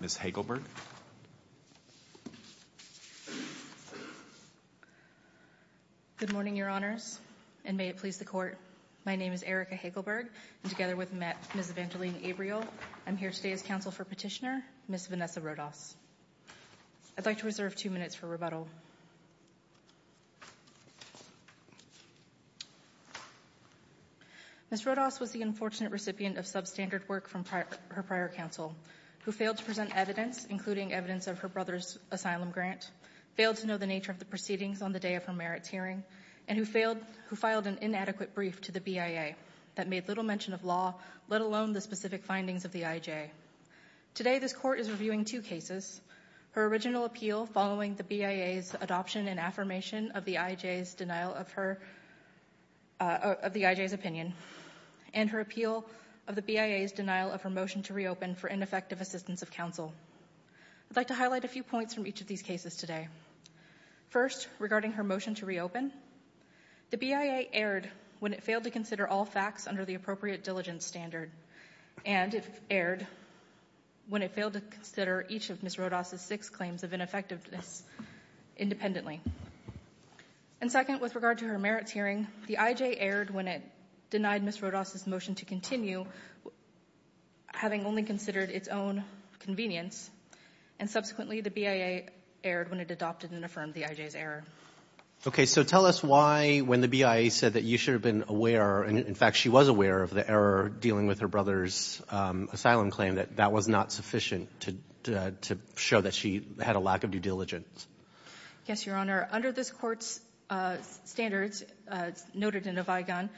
Ms. Hegelberg Good morning, your honors and may it please the court. My name is Erika Hegelberg and together with Ms. Evangeline Abriel I'm here today as counsel for petitioner, Ms. Vanessa Rodas I'd like to reserve two minutes for rebuttal Ms. Rodas was the unfortunate recipient of substandard work from her prior counsel, who failed to present evidence, including evidence of her brother's asylum grant, failed to know the nature of the proceedings on the day of her merits hearing, and who filed an inadequate brief to the BIA that made little mention of law, let alone the specific findings of the IJ Today this court is reviewing two cases, her original appeal following the BIA's adoption and affirmation of the IJ's opinion, and her appeal of the BIA's denial of her motion to reopen for ineffective assistance of counsel I'd like to highlight a few points from each of these cases today First, regarding her motion to reopen The BIA erred when it failed to consider all facts under the appropriate diligence standard, and it erred when it failed to consider each of Ms. Rodas' six claims of ineffectiveness independently And second, with regard to her merits hearing, the IJ erred when it denied Ms. Rodas' motion to continue, having only considered its own convenience, and subsequently the BIA erred when it adopted and affirmed the IJ's error Okay, so tell us why, when the BIA said that you should have been aware, and in fact she was aware of the error dealing with her brother's asylum claim, that that was not sufficient to show that she had a lack of due diligence Yes, Your Honor, under this court's standards, noted in the Vigon,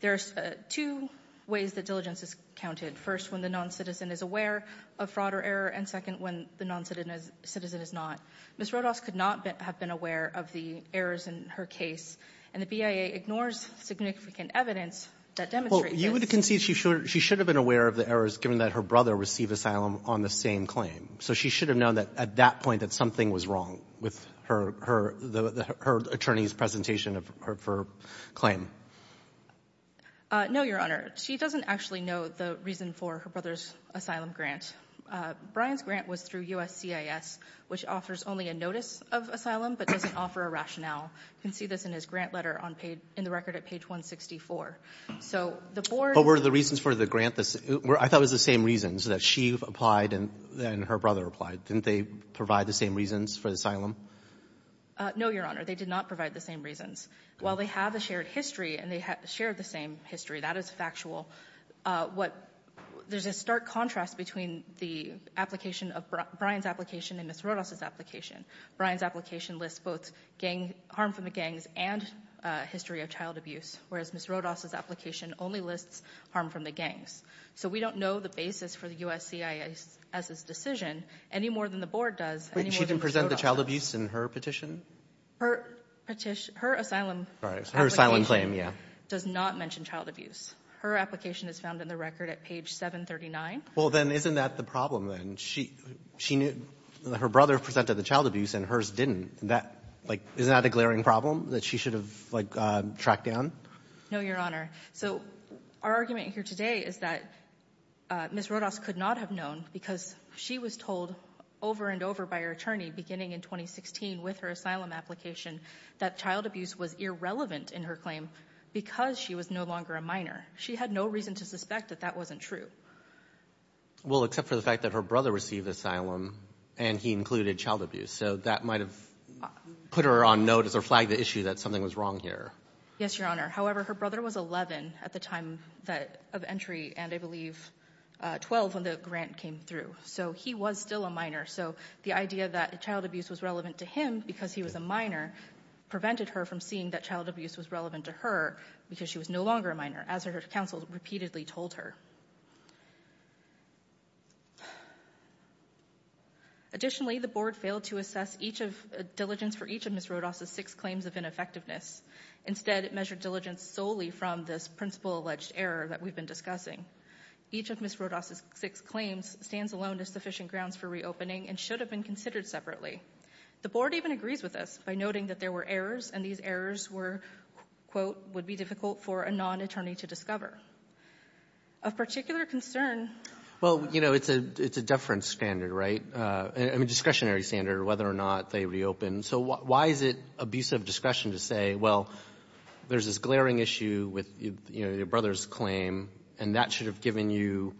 there's two ways that diligence is counted First, when the non-citizen is aware of fraud or error, and second, when the non-citizen is not Ms. Rodas could not have been aware of the errors in her case, and the BIA ignores significant evidence that demonstrates this Well, you would concede she should have been aware of the errors given that her brother received asylum on the same claim So she should have known at that point that something was wrong with her attorney's presentation of her claim No, Your Honor, she doesn't actually know the reason for her brother's asylum grant Brian's grant was through USCIS, which offers only a notice of asylum, but doesn't offer a rationale You can see this in his grant letter in the record at page 164 But were the reasons for the grant, I thought it was the same reasons, that she applied and her brother applied Didn't they provide the same reasons for the asylum? No, Your Honor, they did not provide the same reasons While they have a shared history, and they share the same history, that is factual There's a stark contrast between Brian's application and Ms. Rodas' application Brian's application lists both harm from the gangs and history of child abuse Whereas Ms. Rodas' application only lists harm from the gangs So we don't know the basis for the USCIS' decision any more than the Board does She didn't present the child abuse in her petition? Her asylum application does not mention child abuse Her application is found in the record at page 739 Well, then isn't that the problem? Her brother presented the child abuse and hers didn't Isn't that a glaring problem that she should have tracked down? No, Your Honor So our argument here today is that Ms. Rodas could not have known Because she was told over and over by her attorney beginning in 2016 with her asylum application That child abuse was irrelevant in her claim because she was no longer a minor She had no reason to suspect that that wasn't true Well, except for the fact that her brother received asylum and he included child abuse So that might have put her on notice or flagged the issue that something was wrong here Yes, Your Honor However, her brother was 11 at the time of entry and I believe 12 when the grant came through So he was still a minor So the idea that child abuse was relevant to him because he was a minor Prevented her from seeing that child abuse was relevant to her because she was no longer a minor As her counsel repeatedly told her Additionally, the Board failed to assess diligence for each of Ms. Rodas' six claims of ineffectiveness Instead, it measured diligence solely from this principal alleged error that we've been discussing Each of Ms. Rodas' six claims stands alone as sufficient grounds for reopening And should have been considered separately The Board even agrees with this by noting that there were errors And these errors were, quote, would be difficult for a non-attorney to discover Of particular concern Well, you know, it's a deference standard, right? I mean, discretionary standard whether or not they reopen So why is it abusive discretion to say, well, there's this glaring issue with, you know, your brother's claim And that should have given you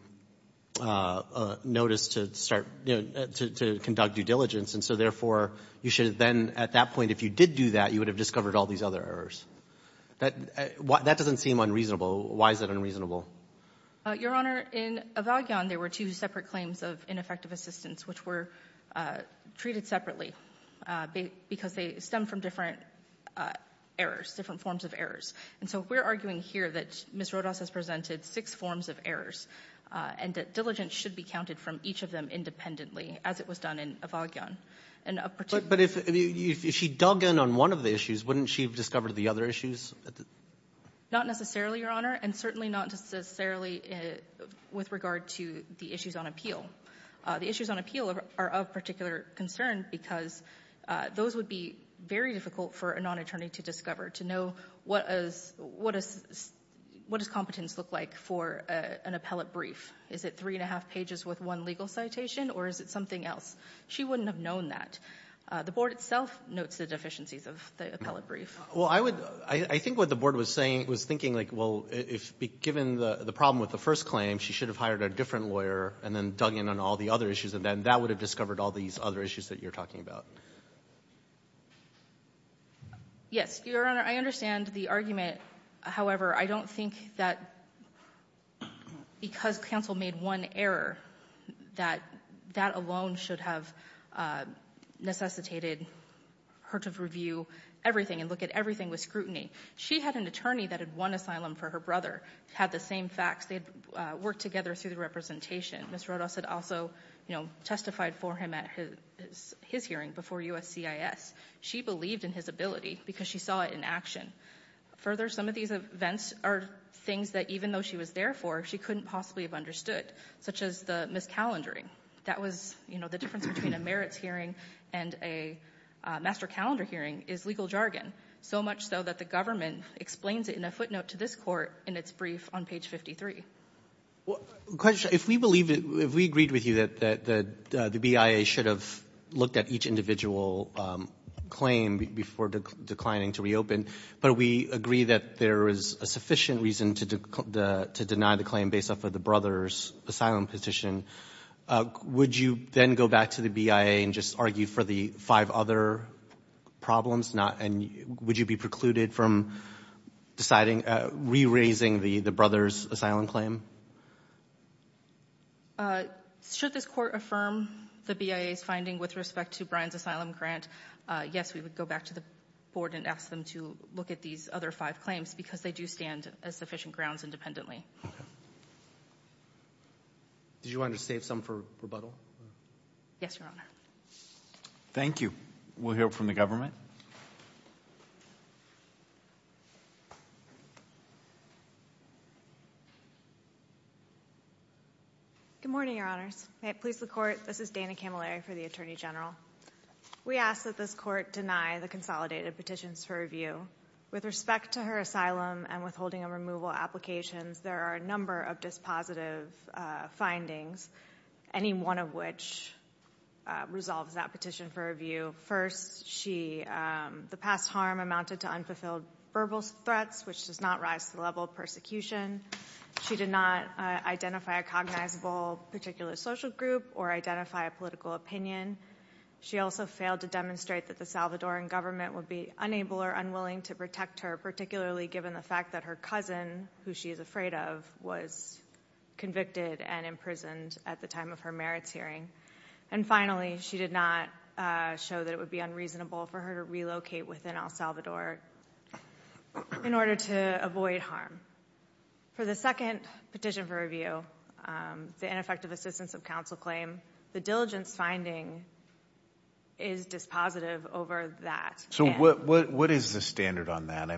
notice to start, you know, to conduct due diligence And so, therefore, you should have then, at that point, if you did do that, you would have discovered all these other errors That doesn't seem unreasonable Why is that unreasonable? Your Honor, in Evagion, there were two separate claims of ineffective assistance Which were treated separately Because they stem from different errors, different forms of errors And so we're arguing here that Ms. Rodas has presented six forms of errors And that diligence should be counted from each of them independently As it was done in Evagion But if she dug in on one of the issues, wouldn't she have discovered the other issues? Not necessarily, Your Honor And certainly not necessarily with regard to the issues on appeal The issues on appeal are of particular concern Because those would be very difficult for a non-attorney to discover To know what does competence look like for an appellate brief Is it three and a half pages with one legal citation? Or is it something else? She wouldn't have known that The Board itself notes the deficiencies of the appellate brief Well, I think what the Board was saying It was thinking, like, well, given the problem with the first claim She should have hired a different lawyer And then dug in on all the other issues And then that would have discovered all these other issues that you're talking about Yes, Your Honor, I understand the argument However, I don't think that because counsel made one error That that alone should have necessitated her to review everything And look at everything with scrutiny She had an attorney that had won asylum for her brother Had the same facts They had worked together through the representation Ms. Rodos had also testified for him at his hearing before USCIS She believed in his ability because she saw it in action Further, some of these events are things that even though she was there for She couldn't possibly have understood Such as the miscalendering That was the difference between a merits hearing and a master calendar hearing Is legal jargon So much so that the government explains it in a footnote to this Court In its brief on page 53 If we agreed with you that the BIA should have looked at each individual claim Before declining to reopen But we agree that there is a sufficient reason to deny the claim Based off of the brother's asylum petition Would you then go back to the BIA And just argue for the five other problems Would you be precluded from re-raising the brother's asylum claim? Should this Court affirm the BIA's finding with respect to Brian's asylum grant Yes, we would go back to the Board And ask them to look at these other five claims Because they do stand as sufficient grounds independently Did you want to save some for rebuttal? Yes, Your Honor Thank you We'll hear from the government Good morning, Your Honors May it please the Court This is Dana Camilleri for the Attorney General We ask that this Court deny the consolidated petitions for review With respect to her asylum and withholding of removal applications There are a number of dispositive findings Any one of which resolves that petition for review First, the past harm amounted to unfulfilled verbal threats Which does not rise to the level of persecution She did not identify a cognizable particular social group Or identify a political opinion She also failed to demonstrate that the Salvadoran government Would be unable or unwilling to protect her Particularly given the fact that her cousin, who she is afraid of Was convicted and imprisoned at the time of her merits hearing And finally, she did not show that it would be unreasonable For her to relocate within El Salvador In order to avoid harm For the second petition for review The ineffective assistance of counsel claim The diligence finding is dispositive over that So what is the standard on that?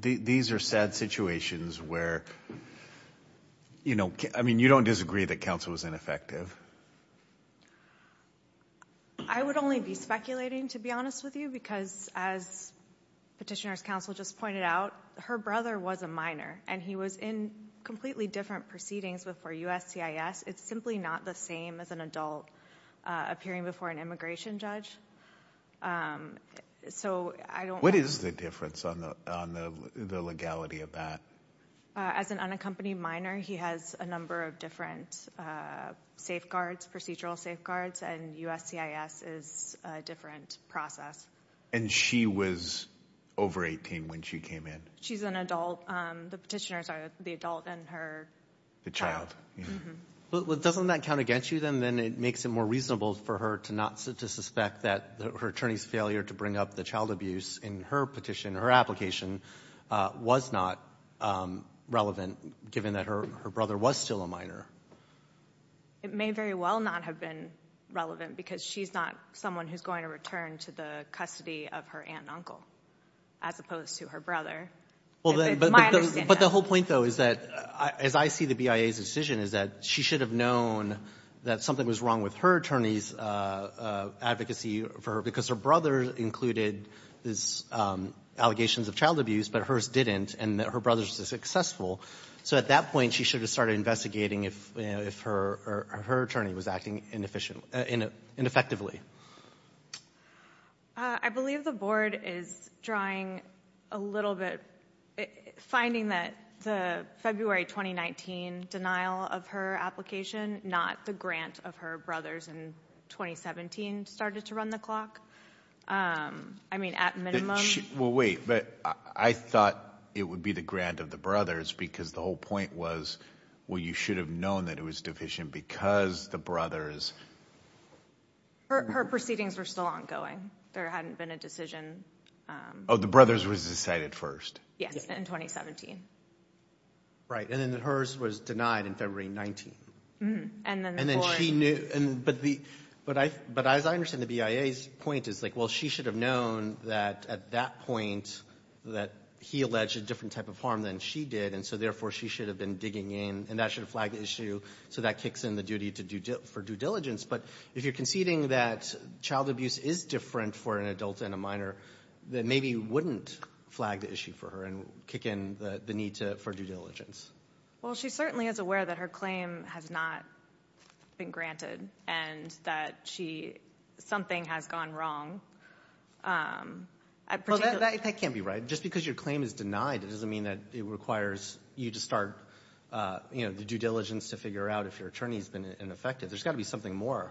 These are sad situations where You don't disagree that counsel is ineffective I would only be speculating to be honest with you Because as Petitioner's Counsel just pointed out Her brother was a minor And he was in completely different proceedings before USCIS It's simply not the same as an adult Appearing before an immigration judge What is the difference on the legality of that? As an unaccompanied minor He has a number of different safeguards Procedural safeguards And USCIS is a different process And she was over 18 when she came in? She's an adult The Petitioners are the adult and her child Doesn't that count against you then? And then it makes it more reasonable for her To suspect that her attorney's failure To bring up the child abuse in her petition Her application Was not relevant Given that her brother was still a minor It may very well not have been relevant Because she's not someone who's going to return To the custody of her aunt and uncle As opposed to her brother My understanding But the whole point though is that As I see the BIA's decision Is that she should have known That something was wrong with her attorney's Advocacy for her Because her brother included These allegations of child abuse But hers didn't And her brother was successful So at that point She should have started investigating If her attorney was acting inefficiently Ineffectively I believe the Board is drawing a little bit Finding that the February 2019 Denial of her application Not the grant of her brother's In 2017 started to run the clock I mean at minimum Well wait But I thought it would be The grant of the brothers Because the whole point was Well you should have known That it was deficient Because the brothers Her proceedings were still ongoing There hadn't been a decision Oh the brothers was decided first Yes in 2017 Right and then hers was denied In February 2019 And then she knew But as I understand the BIA's point Is like well she should have known That at that point That he alleged a different type of harm Than she did And so therefore she should have been Digging in And that should have flagged the issue So that kicks in the duty For due diligence But if you're conceding that Child abuse is different For an adult and a minor Then maybe you wouldn't Flag the issue for her And kick in the need for due diligence Well she certainly is aware That her claim has not been granted And that she Something has gone wrong Well that can't be right Just because your claim is denied It doesn't mean that it requires You to start You know the due diligence To figure out if your attorney Has been ineffective There's got to be something more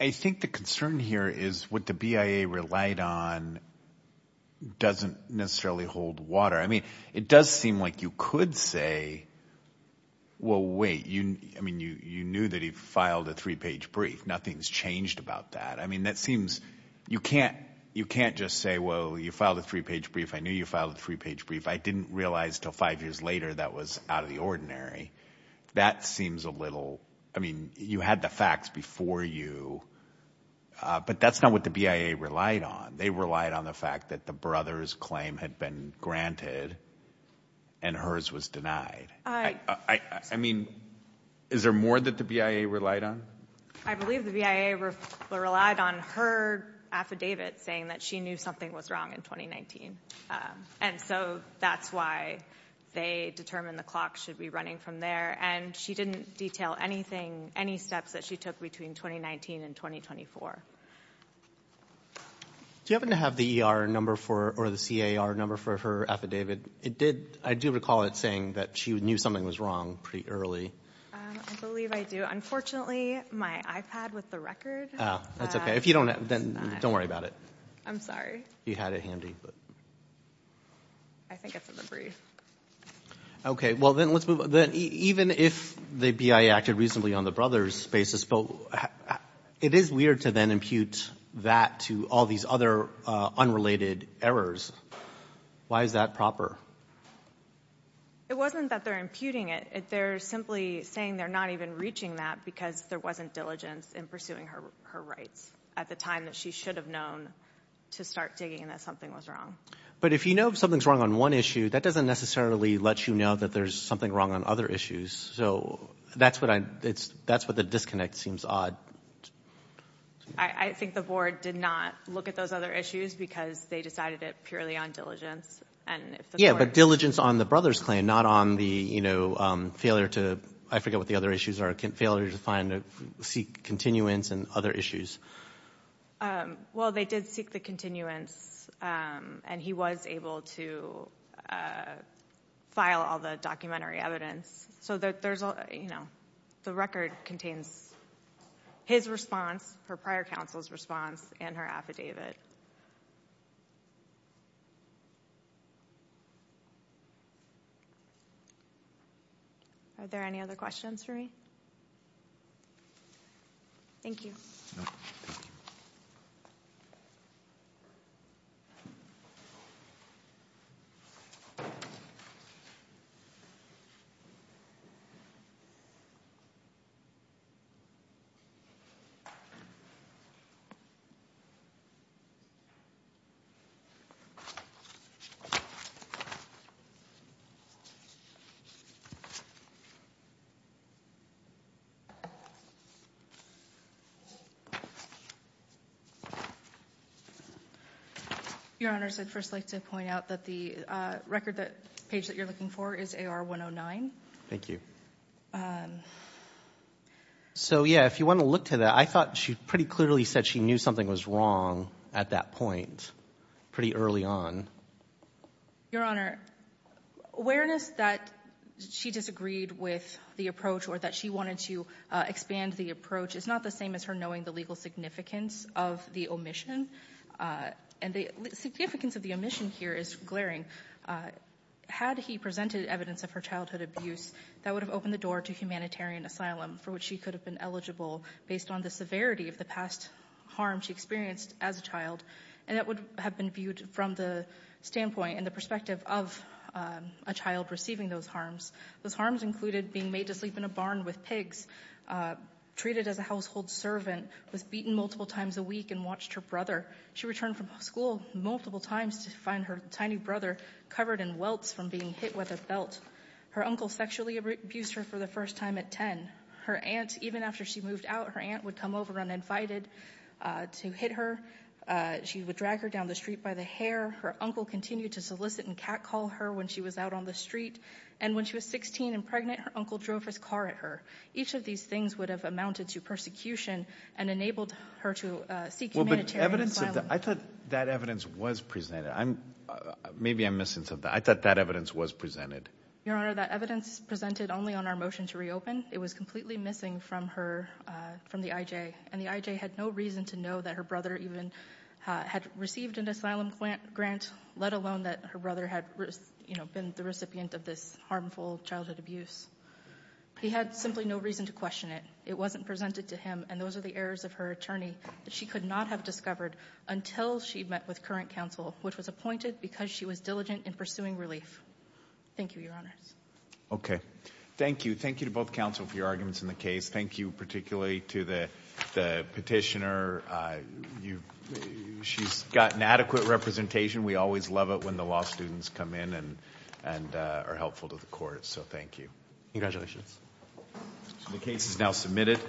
I think the concern here is What the BIA relied on Doesn't necessarily hold water I mean it does seem like You could say Well wait I mean you knew that he Filed a three page brief Nothing's changed about that I mean that seems You can't just say Well you filed a three page brief I knew you filed a three page brief I didn't realize until five years later That was out of the ordinary That seems a little I mean you had the facts before you But that's not what the BIA relied on They relied on the fact that The brother's claim had been granted And hers was denied I mean Is there more that the BIA relied on? I believe the BIA relied on Her affidavit saying that She knew something was wrong in 2019 And so that's why They determined the clock Should be running from there And she didn't detail anything Any steps that she took Between 2019 and 2024 Do you happen to have The ER number for Or the CAR number for her affidavit? It did I do recall it saying That she knew something was wrong Pretty early I believe I do Unfortunately my iPad with the record That's okay If you don't have Then don't worry about it I'm sorry You had it handy I think it's in the brief Okay well then let's move Even if the BIA acted reasonably On the brother's basis It is weird to then impute that To all these other unrelated errors Why is that proper? It wasn't that they're imputing it They're simply saying They're not even reaching that Because there wasn't diligence In pursuing her rights At the time that she should have known To start digging And that something was wrong But if you know something's wrong On one issue That doesn't necessarily let you know That there's something wrong On other issues So that's what I That's what the disconnect seems odd I think the board Did not look at those other issues Because they decided it Purely on diligence Yeah but diligence on the brother's claim Not on the you know Failure to I forget what the other issues are Failure to find Seek continuance And other issues Well they did seek the continuance And he was able to File all the documentary evidence So that there's all You know The record contains His response Her prior counsel's response And her affidavit Are there any other questions for me? Thank you Thank you Your honors I'd first like to point out That the record The page that you're looking for Is AR 109 Thank you So yeah If you want to look to that I thought she pretty clearly said She knew something was wrong At that point Pretty early on Your honor Awareness that She disagreed with the approach Or that she wanted to Expand the approach Is not the same as her knowing The legal significance Of the omission And the significance of the omission here Is glaring Had he presented evidence Of her childhood abuse That would have opened the door To humanitarian asylum For which she could have been eligible Based on the severity Of the past harm She experienced as a child And that would have been viewed From the standpoint And the perspective Of a child receiving those harms Those harms included Being made to sleep in a barn with pigs Treated as a household servant Was beaten multiple times a week And watched her brother She returned from school Multiple times To find her tiny brother Covered in welts From being hit with a belt Her uncle sexually abused her For the first time at 10 Her aunt, even after she moved out Her aunt would come over uninvited To hit her She would drag her down the street By the hair Her uncle continued to solicit And catcall her When she was out on the street And when she was 16 and pregnant Her uncle drove his car at her Each of these things Would have amounted to persecution And enabled her to Seek humanitarian asylum Well but evidence I thought that evidence Was presented I'm Maybe I'm missing something I thought that evidence Was presented Your honor That evidence presented Only on our motion to reopen It was completely missing From her From the IJ And the IJ had no reason To know that her brother Even had received An asylum grant Let alone that her brother Had you know Been the recipient Of this harmful Childhood abuse He had simply no reason To question it It wasn't presented to him And those are the errors Of her attorney That she could not Have discovered Until she met With current counsel Which was appointed Because she was diligent In pursuing relief Thank you your honors Okay Thank you Thank you to both counsel For your arguments in the case Thank you particularly To the Petitioner You She's got an adequate representation We always love it When the law students Come in and And are helpful To the court So thank you Congratulations The case is now submitted